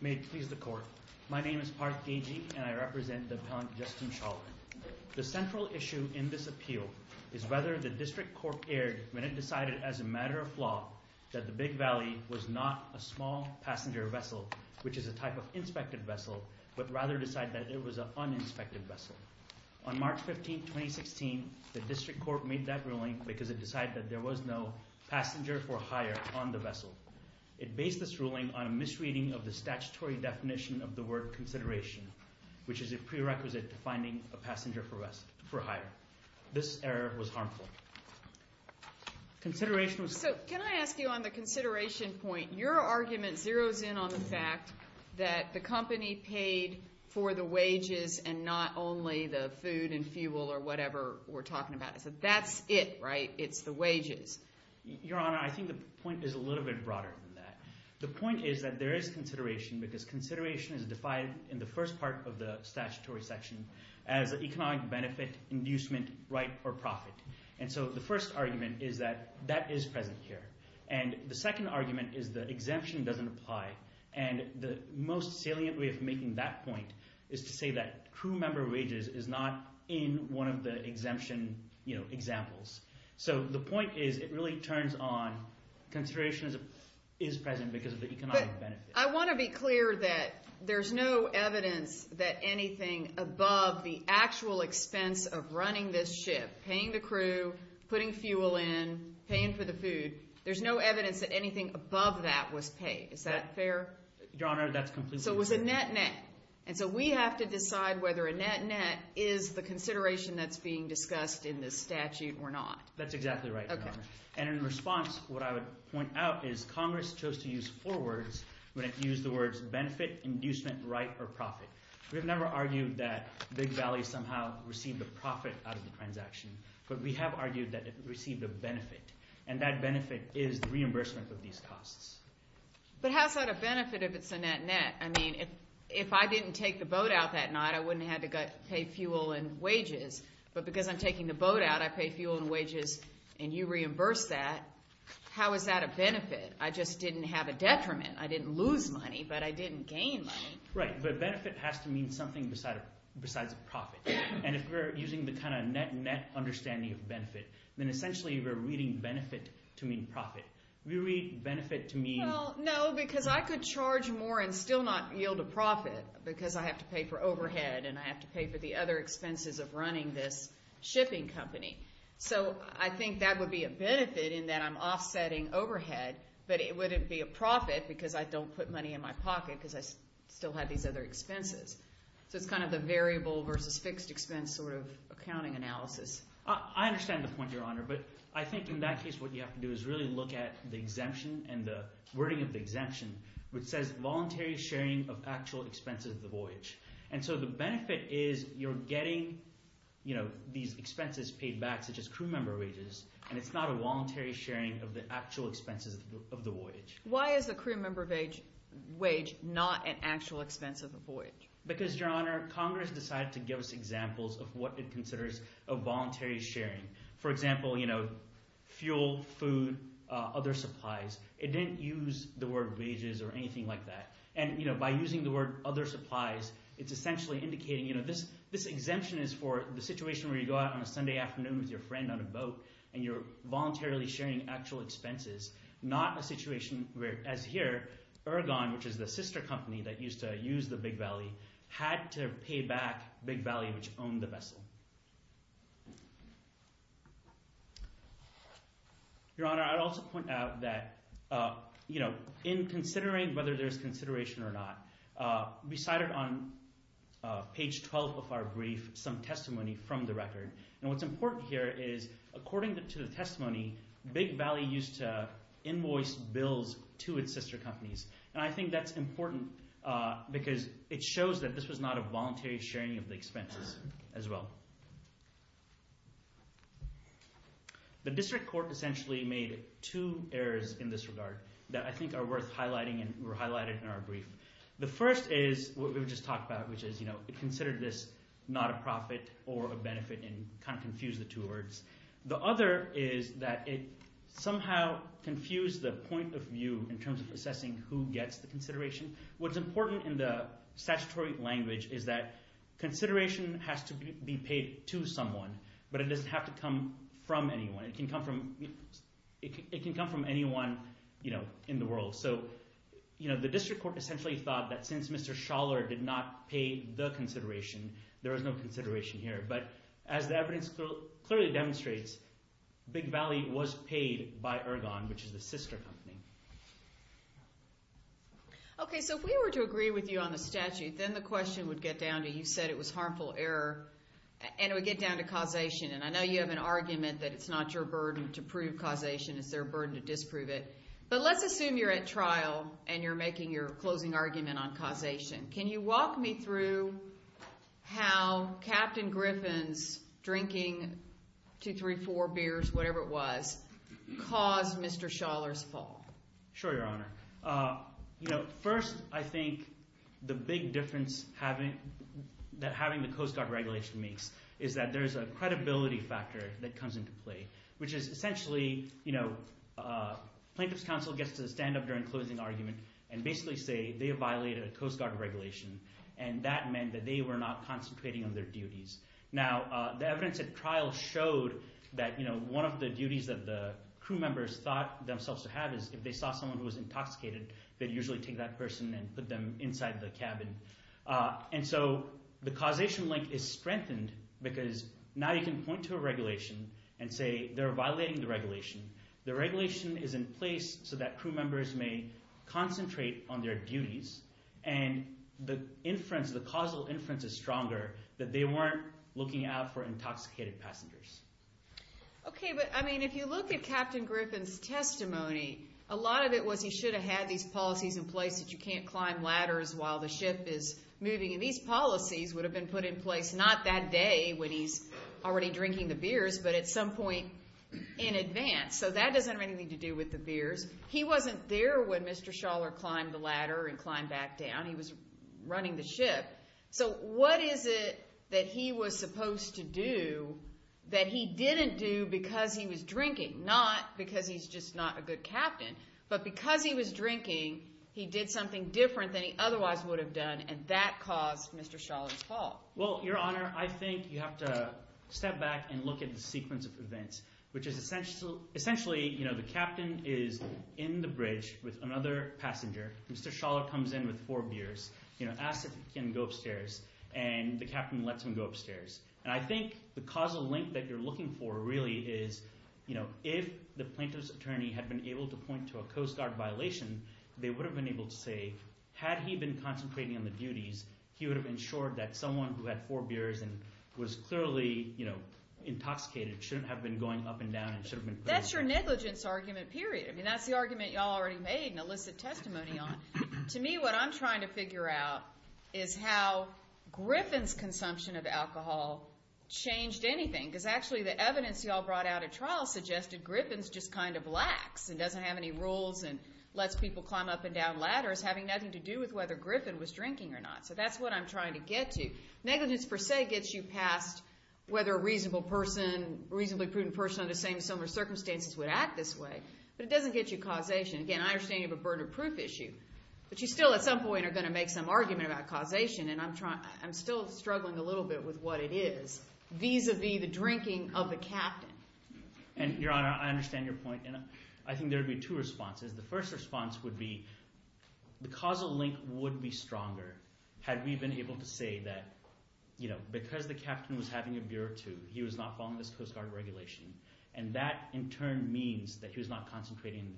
May it please the Court, my name is Parth Keji and I represent the Appellant Justin Shawler. The central issue in this appeal is whether the District Court erred when it decided as a matter of law that the Big Valley was not a small passenger vessel, which is a type of inspected vessel, but rather decided that it was an uninspected vessel. On March 15, 2016, the District Court made that ruling because it decided that there was no passenger for hire on the vessel. It based this ruling on a misreading of the statutory definition of the word consideration, which is a prerequisite to finding a passenger for hire. This error was harmful. Consideration was... So can I ask you on the consideration point, your argument zeroes in on the fact that the company paid for the wages and not only the food and fuel or whatever we're talking about. So that's it, right? It's the wages. Your Honor, I think the point is a little bit broader than that. The point is that there is consideration because consideration is defined in the first part of the statutory section as economic benefit inducement right or profit. And so the first argument is that that is present here. And the second argument is that exemption doesn't apply. And the most salient way of making that point is to say that crew member wages is not in one of the exemption examples. So the point is it really turns on consideration is present because of the economic benefit. I want to be clear that there's no evidence that anything above the actual expense of that was paid. Is that fair? Your Honor, that's completely... So it was a net-net. And so we have to decide whether a net-net is the consideration that's being discussed in this statute or not. That's exactly right, Your Honor. And in response, what I would point out is Congress chose to use four words when it used the words benefit, inducement, right, or profit. We've never argued that Big Valley somehow received a profit out of the transaction, but we have reimbursement of these costs. But how is that a benefit if it's a net-net? I mean, if I didn't take the boat out that night, I wouldn't have to pay fuel and wages. But because I'm taking the boat out, I pay fuel and wages and you reimburse that. How is that a benefit? I just didn't have a detriment. I didn't lose money, but I didn't gain money. Right, but benefit has to mean something besides a profit. And if we're using the kind of net-net understanding of benefit, then essentially we're reading benefit to mean profit. We read benefit to mean... Well, no, because I could charge more and still not yield a profit because I have to pay for overhead and I have to pay for the other expenses of running this shipping company. So I think that would be a benefit in that I'm offsetting overhead, but it wouldn't be a profit because I don't put money in my pocket because I still have these other expenses. So it's kind of the variable versus fixed expense sort of accounting analysis. I understand the point, Your Honor, but I think in that case what you have to do is really look at the exemption and the wording of the exemption, which says voluntary sharing of actual expenses of the voyage. And so the benefit is you're getting these expenses paid back, such as crew member wages, and it's not a voluntary sharing of the actual expenses of the voyage. Why is the crew member wage not an actual expense of the voyage? Because, Your Honor, Congress decided to give us examples of what it considers a voluntary sharing. For example, fuel, food, other supplies. It didn't use the word wages or anything like that. And by using the word other supplies, it's essentially indicating this exemption is for the situation where you go out on a Sunday afternoon with your friend on a boat and you're voluntarily sharing actual expenses, not a situation where, as here, Ergon, which is the sister company that used to use the Big Valley, had to pay back Big Valley, which owned the vessel. Your Honor, I'd also point out that in considering whether there's consideration or not, we cited on page 12 of our brief some testimony from the record. And what's important here is, according to the testimony, Big Valley used to invoice bills to its sister companies. And I think that's important because it shows that this was not a voluntary sharing of the expenses as well. The district court essentially made two errors in this regard that I think are worth highlighting in our brief. The first is what we've just talked about, which is it considered this not a profit or a benefit and kind of confused the two words. The other is that it somehow confused the point of view in terms of assessing who gets the consideration. What's important in the statutory language is that consideration has to be paid to someone, but it doesn't have to come from anyone. It can come from anyone in the world. So the district court essentially thought that since Mr. Schaller did not pay the consideration, there is no consideration here. But as the evidence clearly demonstrates, Big Valley was paid by Ergon, which is the sister company. Okay, so if we were to agree with you on the statute, then the question would get down to causation. And I know you have an argument that it's not your burden to prove causation, it's their burden to disprove it. But let's assume you're at trial and you're making your closing argument on causation. Can you walk me through how Captain Griffin's drinking 2, 3, 4 beers, whatever it was, caused Mr. Schaller's fall? Sure, Your Honor. First, I think the big difference that having the Coast Guard regulation makes is that there's a credibility factor that comes into play, which is essentially a plaintiff's counsel gets to stand up during closing argument and basically say they violated a Coast Guard regulation, and that meant that they were not concentrating on their duties. Now the evidence at trial showed that one of the duties that the crew members thought themselves to have is if they saw someone who was intoxicated, they'd usually take that person and put them inside the cabin. And so the causation link is strengthened because now you can point to a regulation and say they're violating the regulation. The regulation is in place so that crew members may concentrate on their duties, and the causal inference is stronger that they weren't looking out for intoxicated passengers. Okay, but I mean, if you look at Captain Griffin's testimony, a lot of it was he should have had these policies in place that you can't climb ladders while the ship is moving, and these policies would have been put in place not that day when he's already drinking the beers, but at some point in advance. So that doesn't have anything to do with the beers. He wasn't there when Mr. Schaller climbed the ladder and climbed back down. He was running the ship. So what is it that he was supposed to do that he didn't do because he was drinking? Not because he's just not a good captain, but because he was drinking, he did something different than he otherwise would have done, and that caused Mr. Schaller's fall. Well, Your Honor, I think you have to step back and look at the sequence of events, which is essentially the captain is in the bridge with another passenger. Mr. Schaller comes in with four beers, asks if he can go upstairs, and the captain lets him go upstairs. And I think the causal link that you're looking for, really, is if the plaintiff's attorney had been able to point to a Coast Guard violation, they would have been able to say, had he been concentrating on the duties, he would have ensured that someone who had four beers and was clearly intoxicated shouldn't have been going up and down and should have been put in the car. That's your negligence argument, period. I mean, that's the argument you all already have made and illicit testimony on. To me, what I'm trying to figure out is how Griffin's consumption of alcohol changed anything, because actually the evidence you all brought out at trial suggested Griffin's just kind of lax and doesn't have any rules and lets people climb up and down ladders having nothing to do with whether Griffin was drinking or not. So that's what I'm trying to get to. Negligence, per se, gets you past whether a reasonable person, reasonably prudent person under the same circumstances would act this way, but it doesn't get you causation. Again, I understand you have a burden of proof issue, but you still at some point are going to make some argument about causation, and I'm still struggling a little bit with what it is vis-a-vis the drinking of the captain. And Your Honor, I understand your point, and I think there would be two responses. The first response would be the causal link would be stronger had we been able to say that because the captain was having a beer or two, he was not following this Coast Guard regulation. And that, in turn, means that he was not concentrating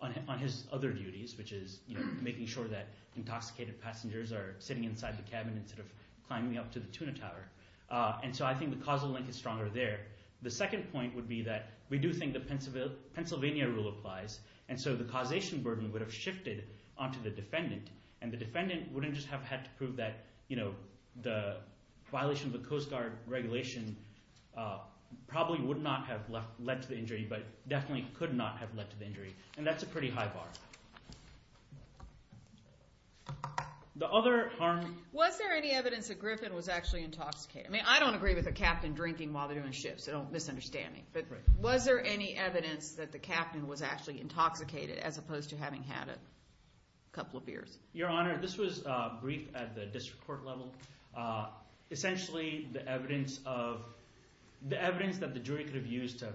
on his other duties, which is making sure that intoxicated passengers are sitting inside the cabin instead of climbing up to the tuna tower. And so I think the causal link is stronger there. The second point would be that we do think the Pennsylvania rule applies, and so the causation burden would have shifted onto the defendant, and the defendant wouldn't just have had to prove that the violation of the Coast Guard regulation probably would not have led to the injury, but definitely could not have led to the injury. And that's a pretty high bar. The other harm... Was there any evidence that Griffin was actually intoxicated? I mean, I don't agree with the captain drinking while they're doing shifts. Don't misunderstand me. But was there any evidence that the captain was actually intoxicated as opposed to having had a couple of beers? Your Honor, this was briefed at the district court level. Essentially, the evidence that the jury could have used to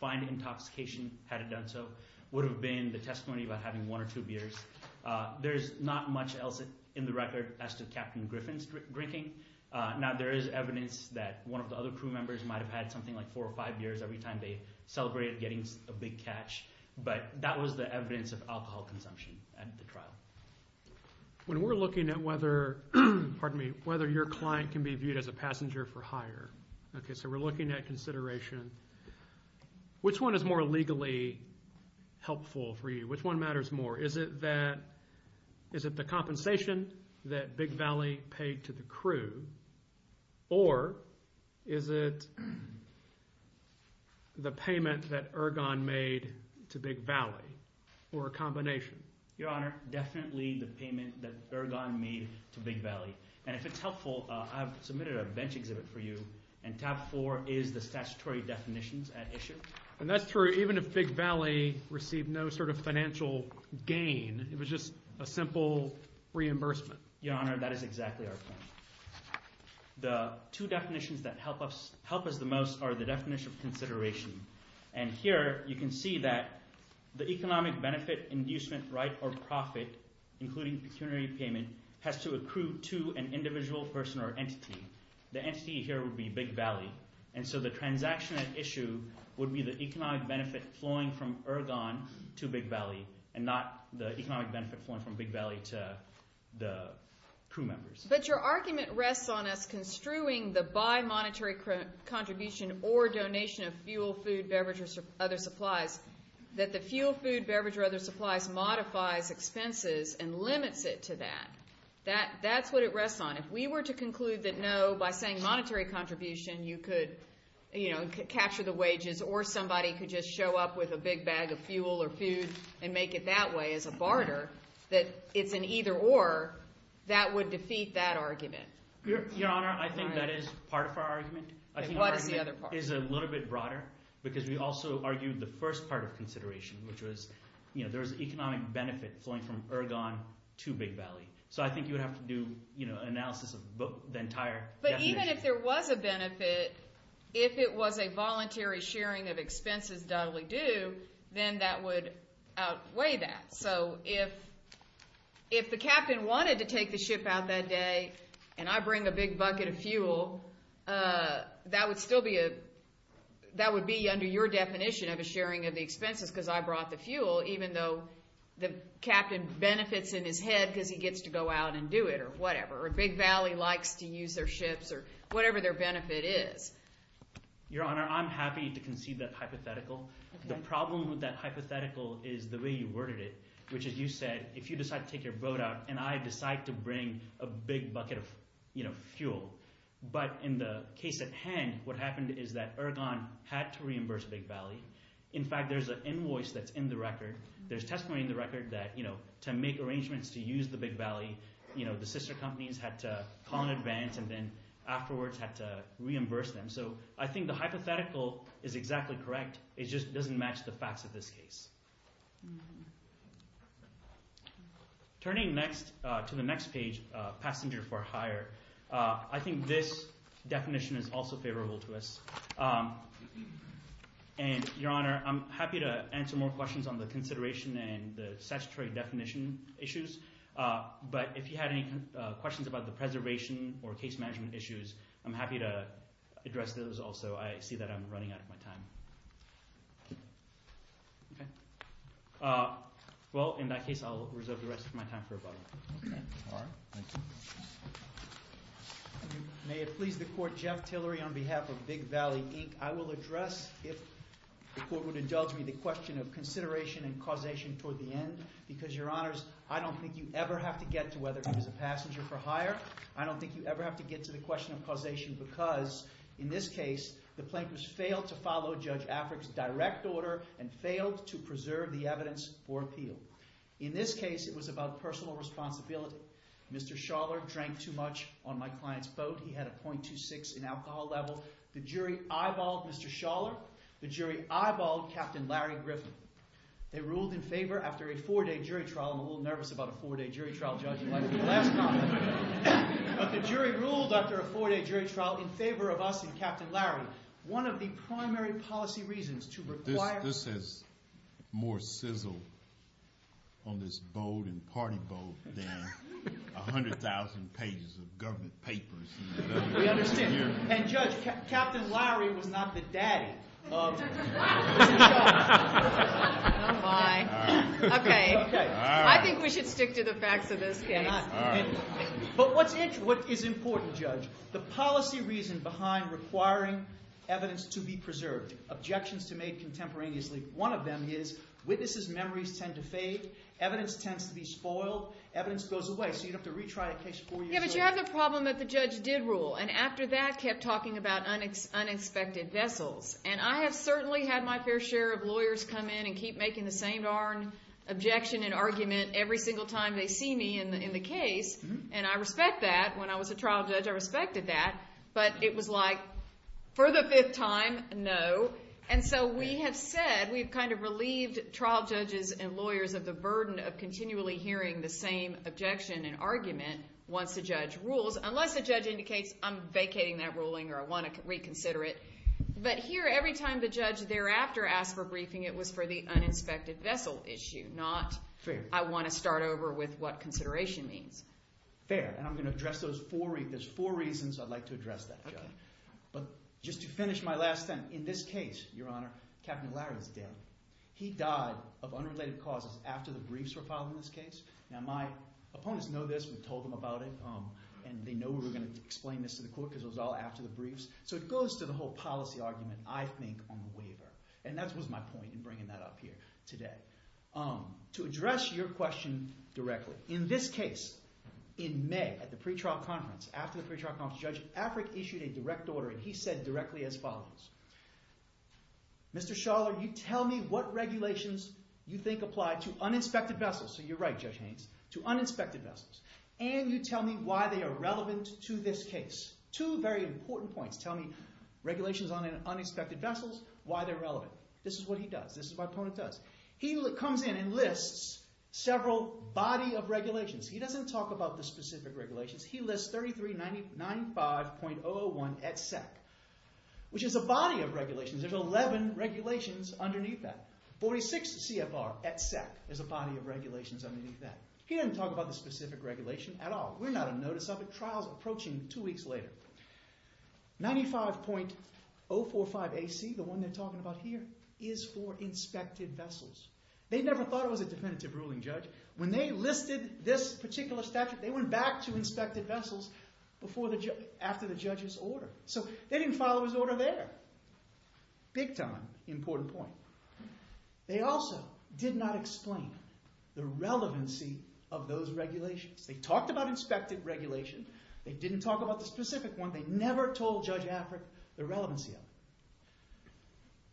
find intoxication had it done so would have been the testimony about having one or two beers. There's not much else in the record as to Captain Griffin's drinking. Now, there is evidence that one of the other crew members might have had something like four or five beers every time they celebrated getting a big catch, but that was the evidence of alcohol consumption at the trial. When we're looking at whether, pardon me, whether your client can be viewed as a passenger for hire, okay, so we're looking at consideration, which one is more legally helpful for you? Which one matters more? Is it the compensation that Big Valley paid to the crew, or is it the payment that Ergon made to Big Valley, or a combination? Your Honor, definitely the payment that Ergon made to Big Valley. And if it's helpful, I've submitted a bench exhibit for you, and tab four is the statutory definitions at issue. And that's true, even if Big Valley received no sort of financial gain, it was just a simple reimbursement. Your Honor, that is exactly our point. The two definitions that help us the most are the definition of consideration. And here, you can see that the economic benefit inducement right or profit, including pecuniary payment, has to accrue to an individual person or entity. The entity here would be Big Valley. And so the transaction at issue would be the economic benefit flowing from Ergon to Big Valley, and not the economic benefit flowing from crew members. But your argument rests on us construing the bimonetary contribution or donation of fuel, food, beverage, or other supplies, that the fuel, food, beverage, or other supplies modifies expenses and limits it to that. That's what it rests on. If we were to conclude that no, by saying monetary contribution, you could, you know, capture the wages, or somebody could just show up with a big bag of fuel or food and make it that way as a barter, that it's an either-or, that would defeat that argument. Your Honor, I think that is part of our argument. And what is the other part? I think our argument is a little bit broader, because we also argued the first part of consideration, which was, you know, there's economic benefit flowing from Ergon to Big Valley. So I think you would have to do, you know, analysis of the entire definition. But even if there was a benefit, if it was a voluntary sharing of expenses doubly due, then that would outweigh that. So if the captain wanted to take the ship out that day, and I bring a big bucket of fuel, that would still be a, that would be under your definition of a sharing of the expenses, because I brought the fuel, even though the captain benefits in his head because he gets to go out and do it, or whatever. Or Big Valley likes to use their ships, or whatever their benefit is. Your Honor, I'm happy to concede that hypothetical. The problem with that hypothetical is the way you worded it, which is you said, if you decide to take your boat out, and I decide to bring a big bucket of, you know, fuel. But in the case at hand, what happened is that Ergon had to reimburse Big Valley. In fact, there's an invoice that's in the record. There's testimony in the record that, you know, to make arrangements to use the Big Valley, you know, the sister companies had to call in advance, and then afterwards had to reimburse them. So I think the hypothetical is exactly correct. It just doesn't match the facts of this case. Turning next, to the next page, passenger for hire, I think this definition is also favorable to us. And Your Honor, I'm happy to answer more questions on the consideration and the statutory definition issues, but if you had any questions about the preservation or case management issues, I'm happy to address those also. I see that I'm running out of my time. Okay. Well, in that case, I'll reserve the rest of my time for a moment. Okay. All right. Thank you. May it please the Court, Jeff Tillery on behalf of Big Valley, Inc. I will address, if the Court would indulge me, the question of consideration and causation toward the end, because Your Honors, I don't think you ever have to get to whether it was a passenger for hire. I don't think you ever have to get to the question of causation, because in this case, the plaintiffs failed to follow Judge Afric's direct order and failed to preserve the evidence for appeal. In this case, it was about personal responsibility. Mr. Schaller drank too much on my client's boat. He had a .26 in alcohol level. The jury eyeballed Mr. Schaller. The jury eyeballed Captain Larry Griffin. They ruled in favor after a four-day jury trial. I'm a little But the jury ruled after a four-day jury trial in favor of us and Captain Larry. One of the primary policy reasons to require... This has more sizzle on this boat and party boat than 100,000 pages of government papers. We understand. And Judge, Captain Larry was not the daddy of Mr. Schaller. Oh, my. Okay. I think we should stick to the facts of this case. But what is important, Judge, the policy reason behind requiring evidence to be preserved, objections to made contemporaneously, one of them is witnesses' memories tend to fade, evidence tends to be spoiled, evidence goes away. So you'd have to retry a case four years later. Yeah, but you have the problem that the judge did rule. And after that, kept talking about unexpected vessels. And I have certainly had my fair share of lawyers come in and keep making the same darn objection and argument every single time they see me in the case. And I respect that. When I was a trial judge, I respected that. But it was like, for the fifth time, no. And so we have said, we've kind of relieved trial judges and lawyers of the burden of continually hearing the same objection and argument once the judge rules. Unless the judge indicates, I'm vacating that ruling or I want to reconsider it. But here, every time the judge thereafter asked for a waiver, I start over with what consideration means. Fair. And I'm going to address those four reasons. There's four reasons I'd like to address that, Judge. But just to finish my last sentence, in this case, Your Honor, Captain O'Leary is dead. He died of unrelated causes after the briefs were filed in this case. Now, my opponents know this. We've told them about it. And they know we're going to explain this to the court because it was all after the briefs. So it goes to the whole policy argument, I think, on the waiver. And that was my point in bringing that up here today. To address your question directly, in this case, in May, at the pretrial conference, after the pretrial conference, Judge Afric issued a direct order. And he said directly as follows. Mr. Schaller, you tell me what regulations you think apply to uninspected vessels. So you're right, Judge Haynes, to uninspected vessels. And you tell me why they are relevant to this case. Two very important points. Tell me regulations on uninspected vessels, why they're relevant. This is what he does. This is what my opponent does. He comes in and lists several body of regulations. He doesn't talk about the specific regulations. He lists 3395.001 et sec, which is a body of regulations. There's 11 regulations underneath that. 46 CFR et sec is a body of regulations underneath that. He doesn't talk about the specific regulation at all. We're not on notice of it. Trial's approaching two weeks later. 95.045 AC, the one they're talking about here, is for inspected vessels. They never thought it was a definitive ruling, Judge. When they listed this particular statute, they went back to inspected vessels after the judge's order. So they didn't follow his order there. Big time important point. They also did not explain the relevancy of those regulations. They talked about inspected regulation. They didn't talk about the specific one. They never told Judge Afric the relevancy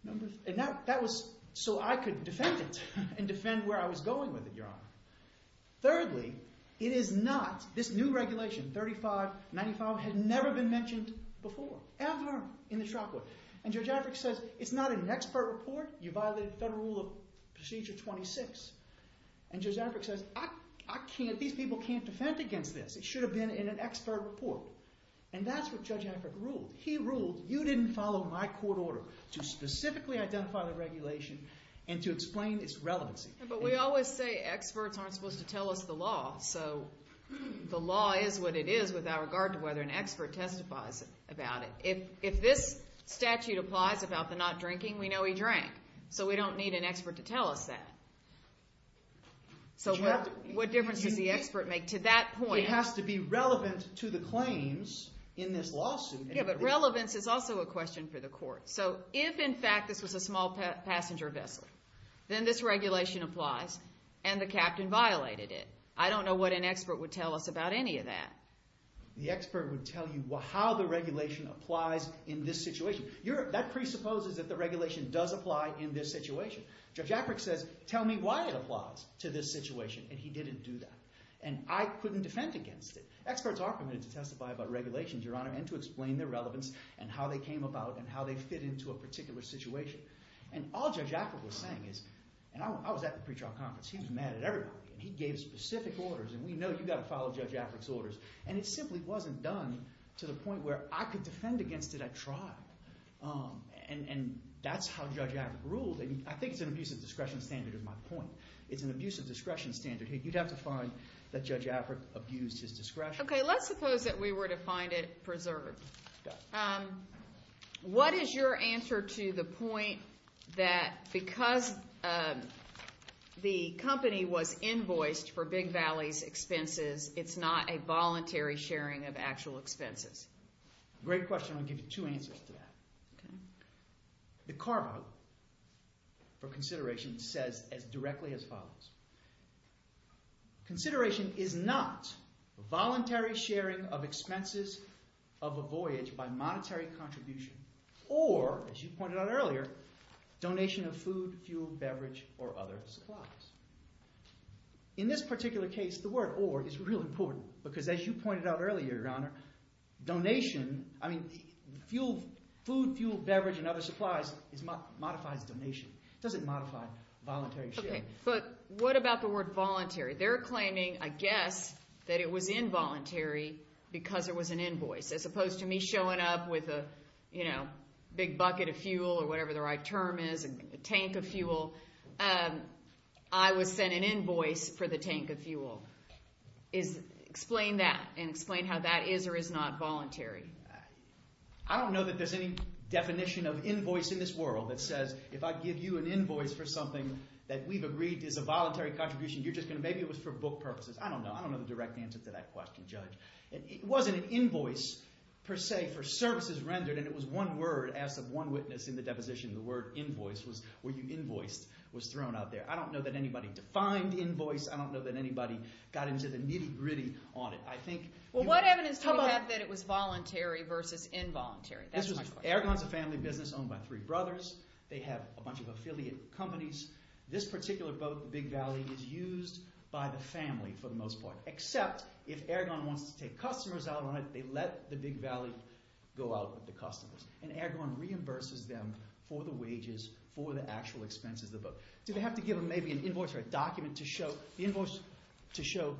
of it. That was so I could defend it and defend where I was going with it, Your Honor. Thirdly, it is not, this new regulation, 3595, had never been mentioned before, ever, in the trial court. Judge Afric says, it's not an expert report. You violated Federal Rule of Procedure 26. Judge Afric says, these people can't defend against this. It should have been in an expert report. And that's what Judge Afric ruled. He ruled, you didn't follow my court order to specifically identify the regulation and to explain its relevancy. But we always say experts aren't supposed to tell us the law. So the law is what it is with our regard to whether an expert testifies about it. If this statute applies about the not drinking, we know he drank. So we don't need an expert to tell us that. So what difference does the expert make to that point? It has to be relevant to the claims in this lawsuit. Yeah, but relevance is also a question for the court. So if, in fact, this was a small passenger vessel, then this regulation applies and the captain violated it. I don't know what an expert would tell us about any of that. The expert would tell you how the regulation applies in this situation. That presupposes that the regulation does apply in this situation. Judge Afric says, tell me why it applies to this situation. And he didn't do that. And I couldn't defend against it. Experts are permitted to testify about regulations, Your Honor, and to explain their relevance and how they came about and how they fit into a particular situation. And all Judge Afric was saying is, and I was at the pretrial conference. He was mad at everybody. And he gave specific orders. And we know you've got to follow Judge Afric's orders. And it simply wasn't done to the point where I could defend against it at trial. And that's how Judge Afric ruled. I think it's an abuse of discretion standard is my point. It's an abuse of discretion standard. You'd have to find that Judge Afric abused his discretion. Okay, let's suppose that we were to find it preserved. What is your answer to the point that because the company was invoiced for Big Valley's expenses, it's not a voluntary sharing of actual expenses? Great question. I'll give you two answers to that. The carve-out for consideration says as directly as follows. Consideration is not voluntary sharing of expenses of a voyage by monetary contribution or, as you pointed out earlier, donation of food, fuel, beverage, or other supplies. In this particular case, the word or is really important because as you pointed out earlier, Your Honor, donation, I mean, food, fuel, beverage, and other supplies modifies donation. It doesn't modify voluntary sharing. Okay, but what about the word voluntary? They're claiming, I guess, that it was involuntary because there was an invoice as opposed to me showing up with a big bucket of fuel or whatever the right term is, a tank of fuel. I was sent an invoice for the tank of fuel. Explain that and explain how that is or is not voluntary. I don't know that there's any definition of invoice in this world that says if I give you an invoice for something that we've agreed is a voluntary contribution, maybe it was for book purposes. I don't know. I don't know the direct answer to that question, Judge. It wasn't an invoice, per se, for services rendered, and it was one word as of one witness in the deposition. The word invoice was where you invoiced was thrown out there. I don't know that anybody got into the nitty-gritty on it. Well, what evidence do we have that it was voluntary versus involuntary? AirGone's a family business owned by three brothers. They have a bunch of affiliate companies. This particular boat, the Big Valley, is used by the family for the most part, except if AirGone wants to take customers out on it, they let the Big Valley go out with the customers. And AirGone reimburses them for the wages, for the actual expenses of the boat. Do they have to give them maybe an invoice or a document to show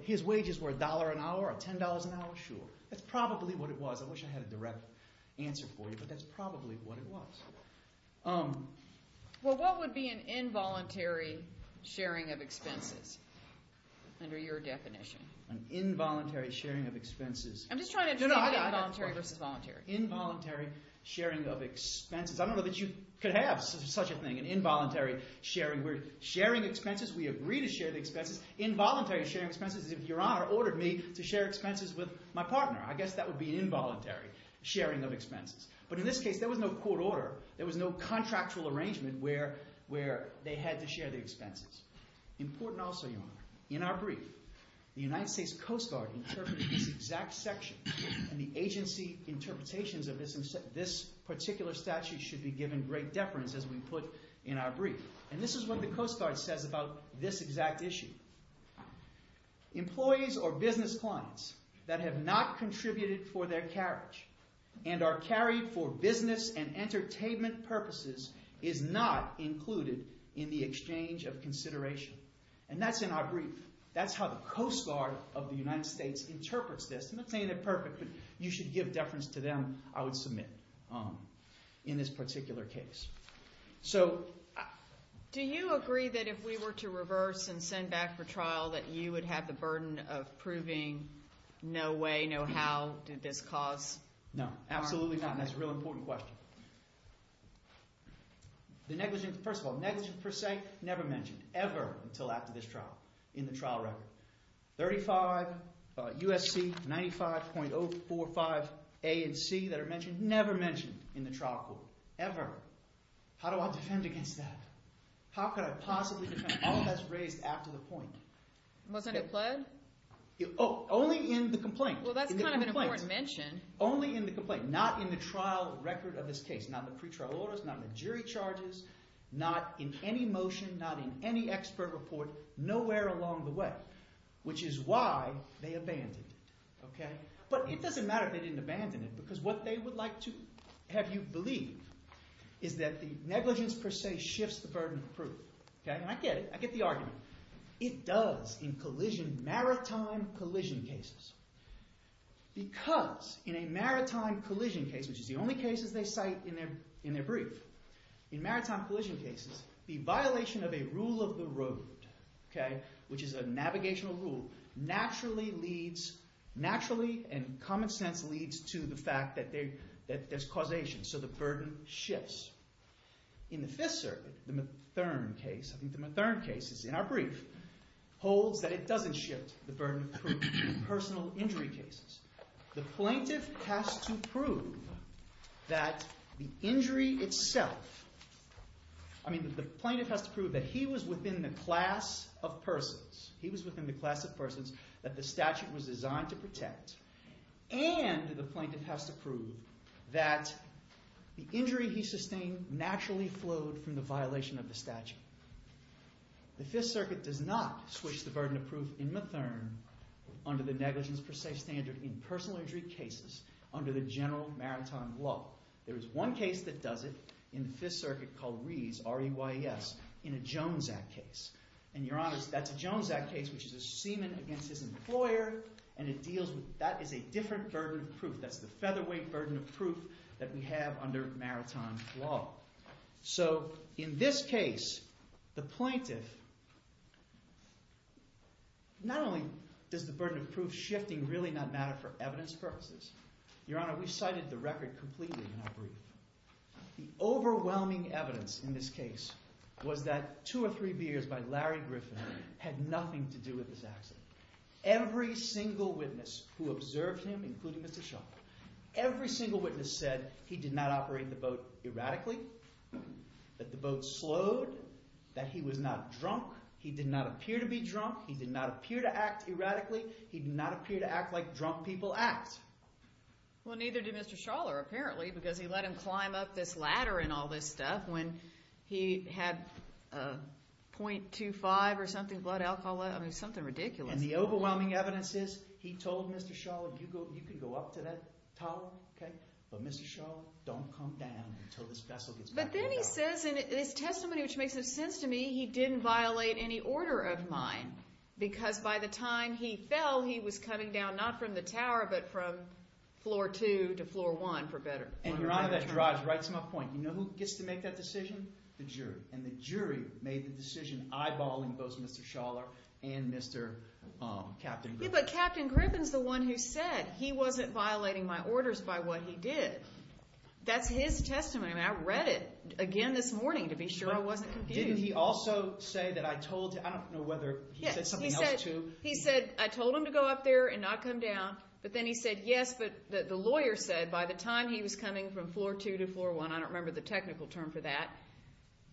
his wages were $1 an hour or $10 an hour? Sure. That's probably what it was. I wish I had a direct answer for you, but that's probably what it was. Well, what would be an involuntary sharing of expenses under your definition? An involuntary sharing of expenses. I'm just trying to understand involuntary versus voluntary. Involuntary sharing of expenses. I don't know that you could have such a thing. An involuntary sharing. We're sharing expenses. We agree to share the expenses. Involuntary sharing of expenses is if Your Honor ordered me to share expenses with my partner. I guess that would be an involuntary sharing of expenses. But in this case, there was no court order. There was no contractual arrangement where they had to share the expenses. Important also, Your Honor, in our brief, the United States Coast Guard interpreted this exact section and the agency interpretations of this particular statute should be given great deference as we put in our brief. This is what the Coast Guard says about this exact issue. Employees or business clients that have not contributed for their carriage and are carried for business and entertainment purposes is not included in the exchange of consideration. That's in our brief. That's how the Coast Guard of the United States interprets this. I'm not saying they're perfect, but you should give deference to them. I would submit in this particular case. So... Do you agree that if we were to reverse and send back for trial that you would have the burden of proving no way, no how, did this cause harm? No, absolutely not. And that's a real important question. The negligence, first of all, negligence per se, never mentioned, ever, until after this trial. In the trial record. 35 U.S.C. 95.045 A and C that are mentioned. Never mentioned in the trial court. Ever. How do I defend against that? How could I possibly defend? All that's raised after the point. Wasn't it pled? Only in the complaint. Well, that's kind of an important mention. Only in the complaint. Not in the trial record of this case. Not in the pretrial orders. Not in the jury charges. Not in any motion. Not in any expert report. Nowhere along the way. Which is why they abandoned it. But it doesn't matter if they didn't abandon it. Because what they would like to have you believe is that the negligence per se shifts the burden of proof. And I get it. I get the argument. It does in collision, maritime collision cases. Because in a maritime collision case, which is the only case they cite in their brief, in maritime collision cases, the violation of a rule of the road, which is a navigational rule, naturally and common sense leads to the fact that there's causation. So the burden shifts. In the Fifth Circuit, the Mathern case, I think the Mathern case is in our brief, holds that it doesn't shift the burden of proof in personal injury cases. The plaintiff has to prove that the injury itself, I mean, the plaintiff has to prove that he was within the class of persons, he was within the class of persons that the statute was designed to protect. And the plaintiff has to prove that the injury he sustained naturally flowed from the violation of the statute. The Fifth Circuit does not switch the burden of proof in Mathern under the negligence per se standard in personal injury cases under the general maritime law. There is one case that does it in the Fifth Circuit called Rees, R-E-Y-E-S, in a Jones Act case. And, Your Honor, that's a Jones Act case which is a semen against his employer, and it deals with... that is a different burden of proof. That's the featherweight burden of proof that we have under maritime law. So in this case, the plaintiff... Not only does the burden of proof shifting really not matter for evidence purposes. Your Honor, we've cited the record completely in our brief. The overwhelming evidence in this case was that two or three beers by Larry Griffin had nothing to do with this accident. Every single witness who observed him, including Mr. Shaw, every single witness said he did not operate the boat erratically, that the boat slowed, that he was not drunk, he did not appear to be drunk, he did not appear to act erratically, he did not appear to act like drunk people act. Well, neither did Mr. Schaller, apparently, because he let him climb up this ladder and all this stuff when he had .25 or something, blood alcohol, I mean, something ridiculous. And the overwhelming evidence is he told Mr. Schaller, you can go up to that tower, okay, but Mr. Schaller, don't come down until this vessel gets back on the dock. But then he says in his testimony, which makes sense to me, he didn't violate any order of mine because by the time he fell, he was coming down not from the tower, but from floor 2 to floor 1, for better. And, Your Honor, that drives right to my point. You know who gets to make that decision? The jury, and the jury made the decision eyeballing both Mr. Schaller and Mr. Captain Griffin. Yeah, but Captain Griffin's the one who said he wasn't violating my orders by what he did. That's his testimony, and I read it again this morning to be sure I wasn't confused. Didn't he also say that I told him, I don't know whether he said something else, too. He said, I told him to go up there and not come down, but then he said, yes, but the lawyer said by the time he was coming from floor 2 to floor 1, I don't remember the technical term for that,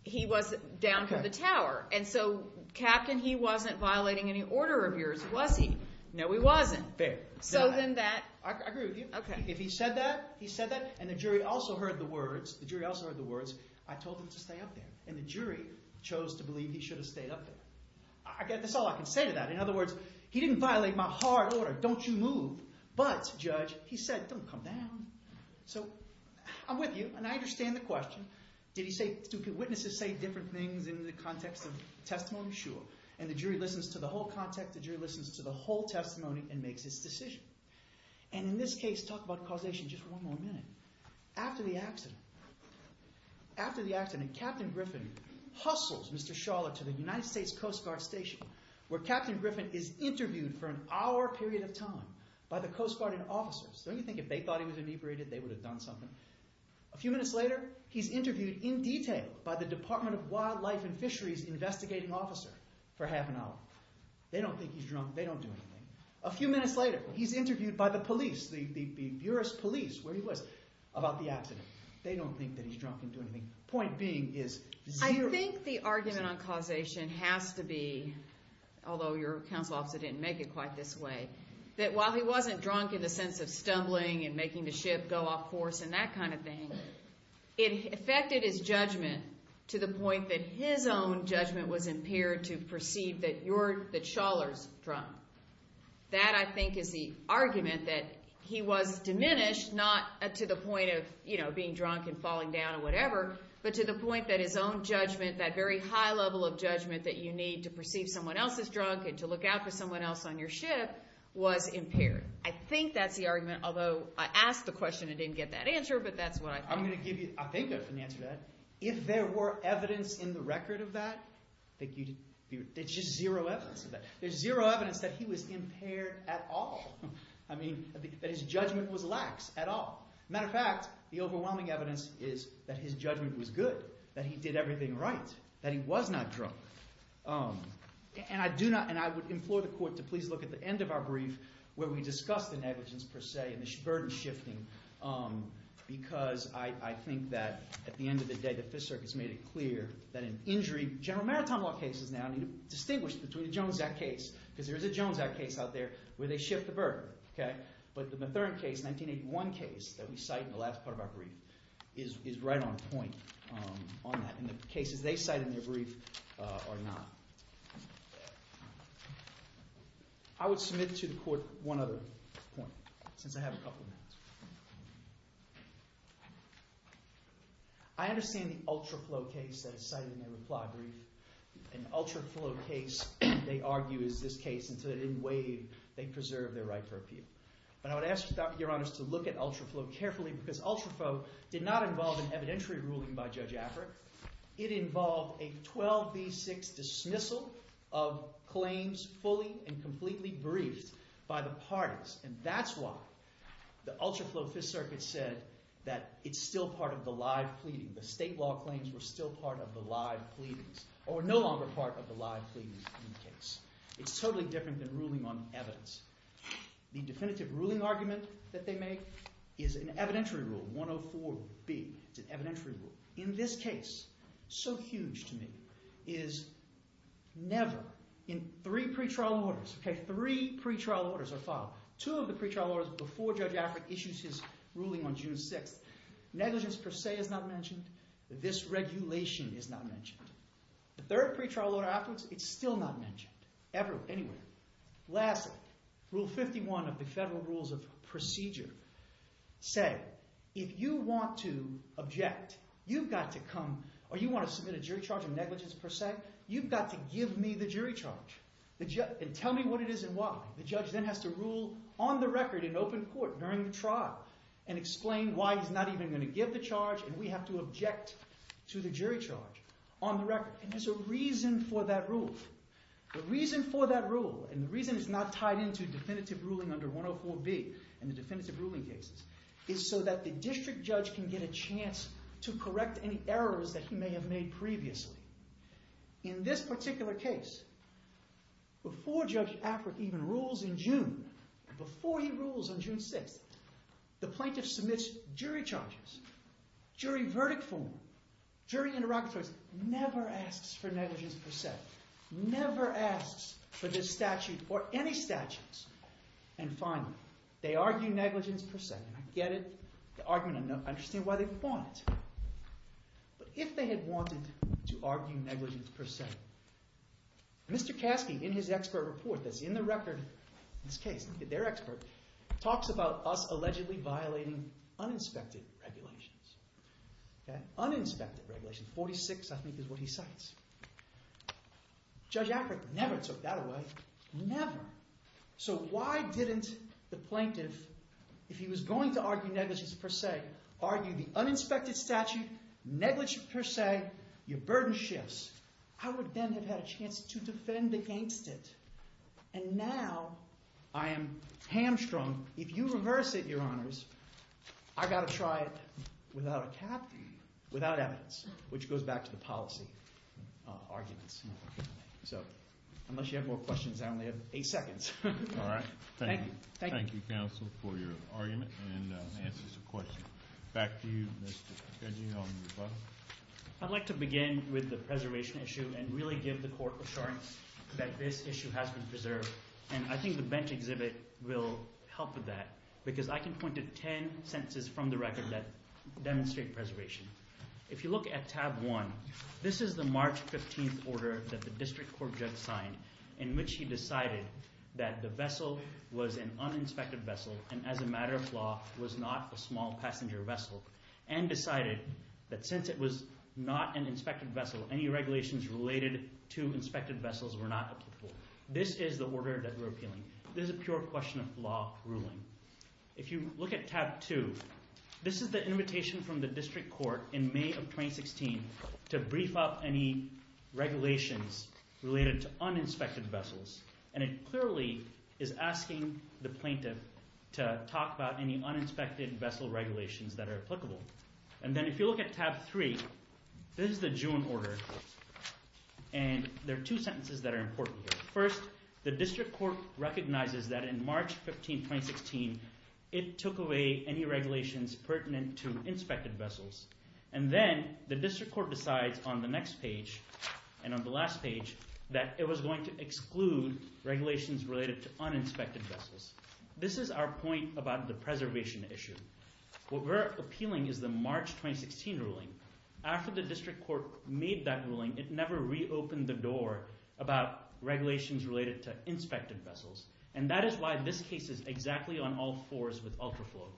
he was down from the tower. And so, Captain, he wasn't violating any order of yours, was he? No, he wasn't. Fair. So then that... I agree with you. Okay. If he said that, he said that, and the jury also heard the words, I told him to stay up there. And the jury chose to believe he should have stayed up there. I guess that's all I can say to that. In other words, he didn't violate my hard order, don't you move, but, Judge, he said, don't come down. So I'm with you, and I understand the question. Did he say... Do witnesses say different things in the context of testimony? Sure. And the jury listens to the whole context, the jury listens to the whole testimony and makes its decision. And in this case, talk about causation just one more minute. After the accident, after the accident, Captain Griffin hustles Mr. Schaller to the United States Coast Guard station, where Captain Griffin is interviewed for an hour period of time by the Coast Guard and officers. Don't you think if they thought he was inebriated, they would have done something? A few minutes later, he's interviewed in detail by the Department of Wildlife and Fisheries investigating officer for half an hour. They don't think he's drunk, they don't do anything. A few minutes later, he's interviewed by the police, the Buras police, where he was, about the accident. They don't think that he's drunk and do anything. Point being is zero... I think the argument on causation has to be, although your counsel officer didn't make it quite this way, that while he wasn't drunk in the sense of stumbling and making the ship go off course and that kind of thing, it affected his judgment to the point that his own judgment was impaired to perceive that Schaller's drunk. That, I think, is the argument that he was diminished, not to the point of being drunk and falling down or whatever, but to the point that his own judgment, that very high level of judgment that you need to perceive someone else is drunk and to look out for someone else on your ship, was impaired. I think that's the argument, although I asked the question and didn't get that answer, but that's what I think. I'm going to give you... I think I can answer that. If there were evidence in the record of that, there's just zero evidence of that. There's zero evidence that he was impaired at all. I mean, that his judgment was lax at all. Matter of fact, the overwhelming evidence is that his judgment was good, that he did everything right, that he was not drunk. And I do not... And I would implore the court to please look at the end of our brief where we discuss the negligence, per se, and the burden shifting, because I think that, at the end of the day, the Fifth Circuit's made it clear that an injury... General Maritime Law cases now need to be distinguished between the Jones Act case, because there is a Jones Act case out there where they shift the burden, okay? But the Mathurin case, 1981 case, that we cite in the last part of our brief, is right on point on that, and the cases they cite in their brief are not. I would submit to the court one other point, since I have a couple minutes. I understand the Ultra Flow case that is cited in their reply brief. An Ultra Flow case, they argue, is this case, and so they didn't waive, they preserved their right for appeal. But I would ask you, Your Honors, to look at Ultra Flow carefully, because Ultra Flow did not involve an evidentiary ruling by Judge Affrick. It involved a 12B6 dismissal of claims fully and completely briefed by the parties, and that's why the Ultra Flow Fifth Circuit said that it's still part of the live pleading. The state law claims were still part of the live pleadings, or were no longer part of the live pleadings in the case. It's totally different than ruling on evidence. The definitive ruling argument that they make is an evidentiary rule, 104B, it's an evidentiary rule. In this case, so huge to me, is never, in three pretrial orders, okay, three pretrial orders are filed. Two of the pretrial orders before Judge Affrick issues his ruling on June 6th. Negligence per se is not mentioned. This regulation is not mentioned. The third pretrial order afterwards, it's still not mentioned, ever, anywhere. Lastly, Rule 51 of the Federal Rules of Procedure said if you want to object, you've got to come, or you want to submit a jury charge of negligence per se, you've got to give me the jury charge, and tell me what it is and why. The judge then has to rule on the record in open court during the trial and explain why he's not even going to give the charge and we have to object to the jury charge on the record, and there's a reason for that rule. The reason for that rule and the reason it's not tied into definitive ruling under 104B and the definitive ruling cases is so that the district judge can get a chance to correct any errors that he may have made previously. In this particular case, before Judge Affrick even rules in June, before he rules on June 6th, the plaintiff submits jury charges, jury verdict form, jury interlocutors, never asks for negligence per se, never asks for this statute or any statutes, and finally, they argue negligence per se, and I get it, the argument, I understand why they want it, but if they had wanted to argue negligence per se, Mr. Kasky, in his expert report that's in the record of this case, their expert, talks about us allegedly violating uninspected regulations, uninspected regulations, 46 I think is what he cites. Judge Affrick never took that away, never. So why didn't the plaintiff, if he was going to argue negligence per se, argue the uninspected statute, negligence per se, your burden shifts. I would then have had a chance to defend against it, and now I am hamstrung. If you reverse it, Your Honors, I've got to try it without a cap, without evidence, which goes back to the policy. Arguments. So, unless you have more questions, I only have 8 seconds. All right. Thank you. Thank you, counsel, for your argument and answers to questions. Back to you, Mr. Keji, on your button. I'd like to begin with the preservation issue and really give the court assurance that this issue has been preserved, and I think the bench exhibit will help with that, because I can point to 10 sentences from the record that demonstrate preservation. If you look at tab 1, this is the March 15th order that the district court just signed in which he decided that the vessel was an uninspected vessel and as a matter of law was not a small passenger vessel, and decided that since it was not an inspected vessel, any regulations related to inspected vessels were not applicable. This is the order that we're appealing. This is a pure question of law ruling. If you look at tab 2, this is the invitation from the district court in May of 2016 to brief up any regulations related to uninspected vessels and it clearly is asking the plaintiff to talk about any uninspected vessel regulations that are applicable. And then if you look at tab 3, this is the June order and there are two sentences that are important here. First, the district court recognizes that in March 15th, 2016, it took away any regulations pertinent to inspected vessels and then the district court decides on the next page and on the last page that it was going to exclude regulations related to uninspected vessels. This is our point about the preservation issue. What we're appealing is the March 2016 ruling. After the district court made that ruling, it never reopened the door about regulations related to inspected vessels and that is why this case is exactly on all fours with UltraFlow.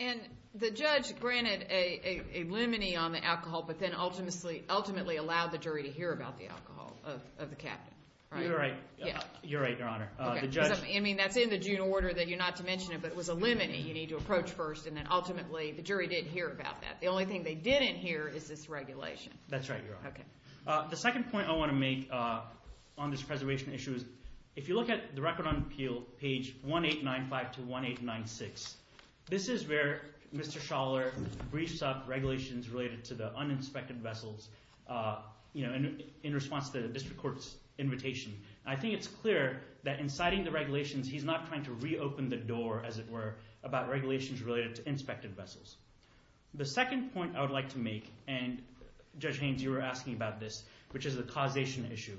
And the judge granted a limine on the alcohol but then ultimately allowed the jury to hear about the alcohol of the captain. You're right. You're right, Your Honor. I mean, that's in the June order that you're not to mention it but it was a limine that you need to approach first and then ultimately the jury didn't hear about that. The only thing they didn't hear is this regulation. That's right, Your Honor. The second point I want to make on this preservation issue is if you look at the Record on Appeal page 1895-1896 this is where Mr. Schaller briefs up regulations related to the uninspected vessels in response to the district court's invitation. I think it's clear that in citing the regulations he's not trying to reopen the door as it were about regulations related to inspected vessels. The second point I would like to make and Judge Haynes you were asking about this which is the causation issue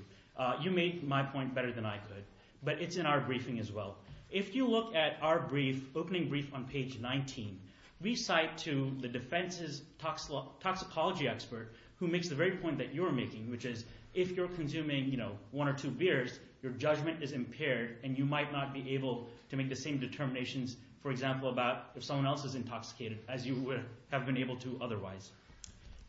you made my point better than I could but it's in our briefing as well. If you look at our brief opening brief on page 19 we cite to the defense's toxicology expert who makes the very point that you're making which is if you're consuming one or two beers your judgment is impaired and you might not be able to make the same determinations for example about if someone else is intoxicated as you would have been able to otherwise.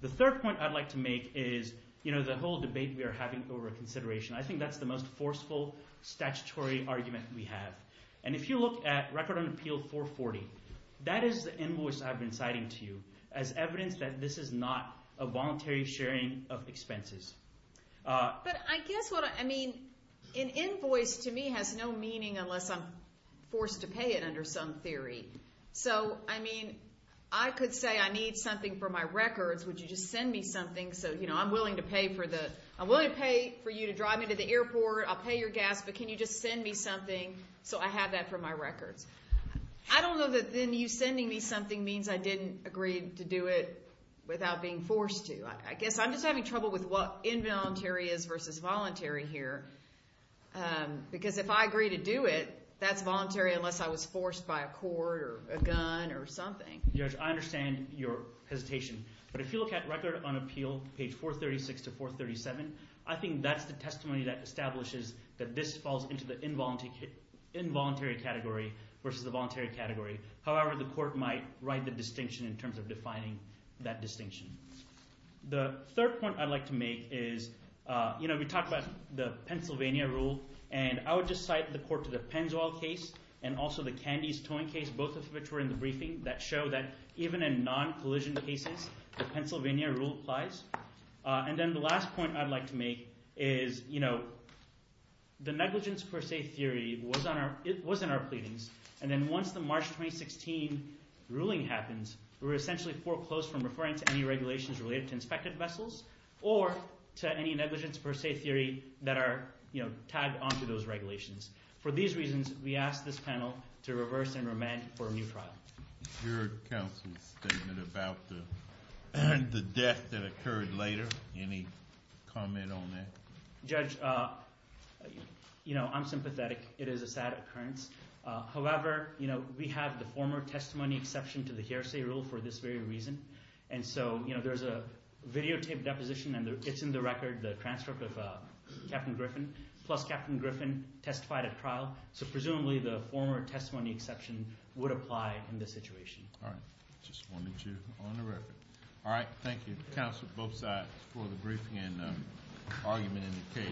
The third point I'd like to make is you know the whole debate we are having over consideration I think that's the most forceful statutory argument we have and if you look at record on appeal 440 that is the invoice I've been citing to you as evidence that this is not a voluntary sharing of expenses. But I guess what I mean an invoice to me has no meaning unless I'm forced to pay it under some theory so I mean I could say I need something for my records would you just send me something so I'm willing to pay for the I'm willing to pay for you to drive me to the airport I'll pay your gas but can you just send me something so I have that for my records. I don't know that you sending me something means I didn't agree to do it without being forced to I guess I'm just having trouble with what involuntary is versus voluntary here because if I agree to do it that's voluntary unless I was forced to pay it under some interpretation but if you look at record on appeal page 436 to 437 I think that's the testimony that establishes that this falls into the involuntary category versus the voluntary category however the court might write the distinction in terms of defining that distinction. The third point I'd like to make is you know we talked about the rule applies the Pennsylvania rule applies and then the last point I'd like to make is you know the negligence per se theory was on our it was in our pleadings and then once the March 2016 ruling happens we're essentially foreclosed from referring to any regulations related to inspected vessels or to any negligence per se theory that are you know tagged onto those regulations. For these reasons we ask this panel to reverse and remand for a new trial. Your counsel's statement about the death that occurred later any comment on that? Judge you know I'm sympathetic it is a sad occurrence however you know we have the former testimony exception to the hearsay rule for this very reason and so you know there's a videotaped deposition and it's in the record the transcript of Captain Griffin plus Captain Griffin testified at trial so presumably the former testimony exception would apply in this situation. All right just wanted you on the record. All right thank you counsel both sides for the briefing and argument in the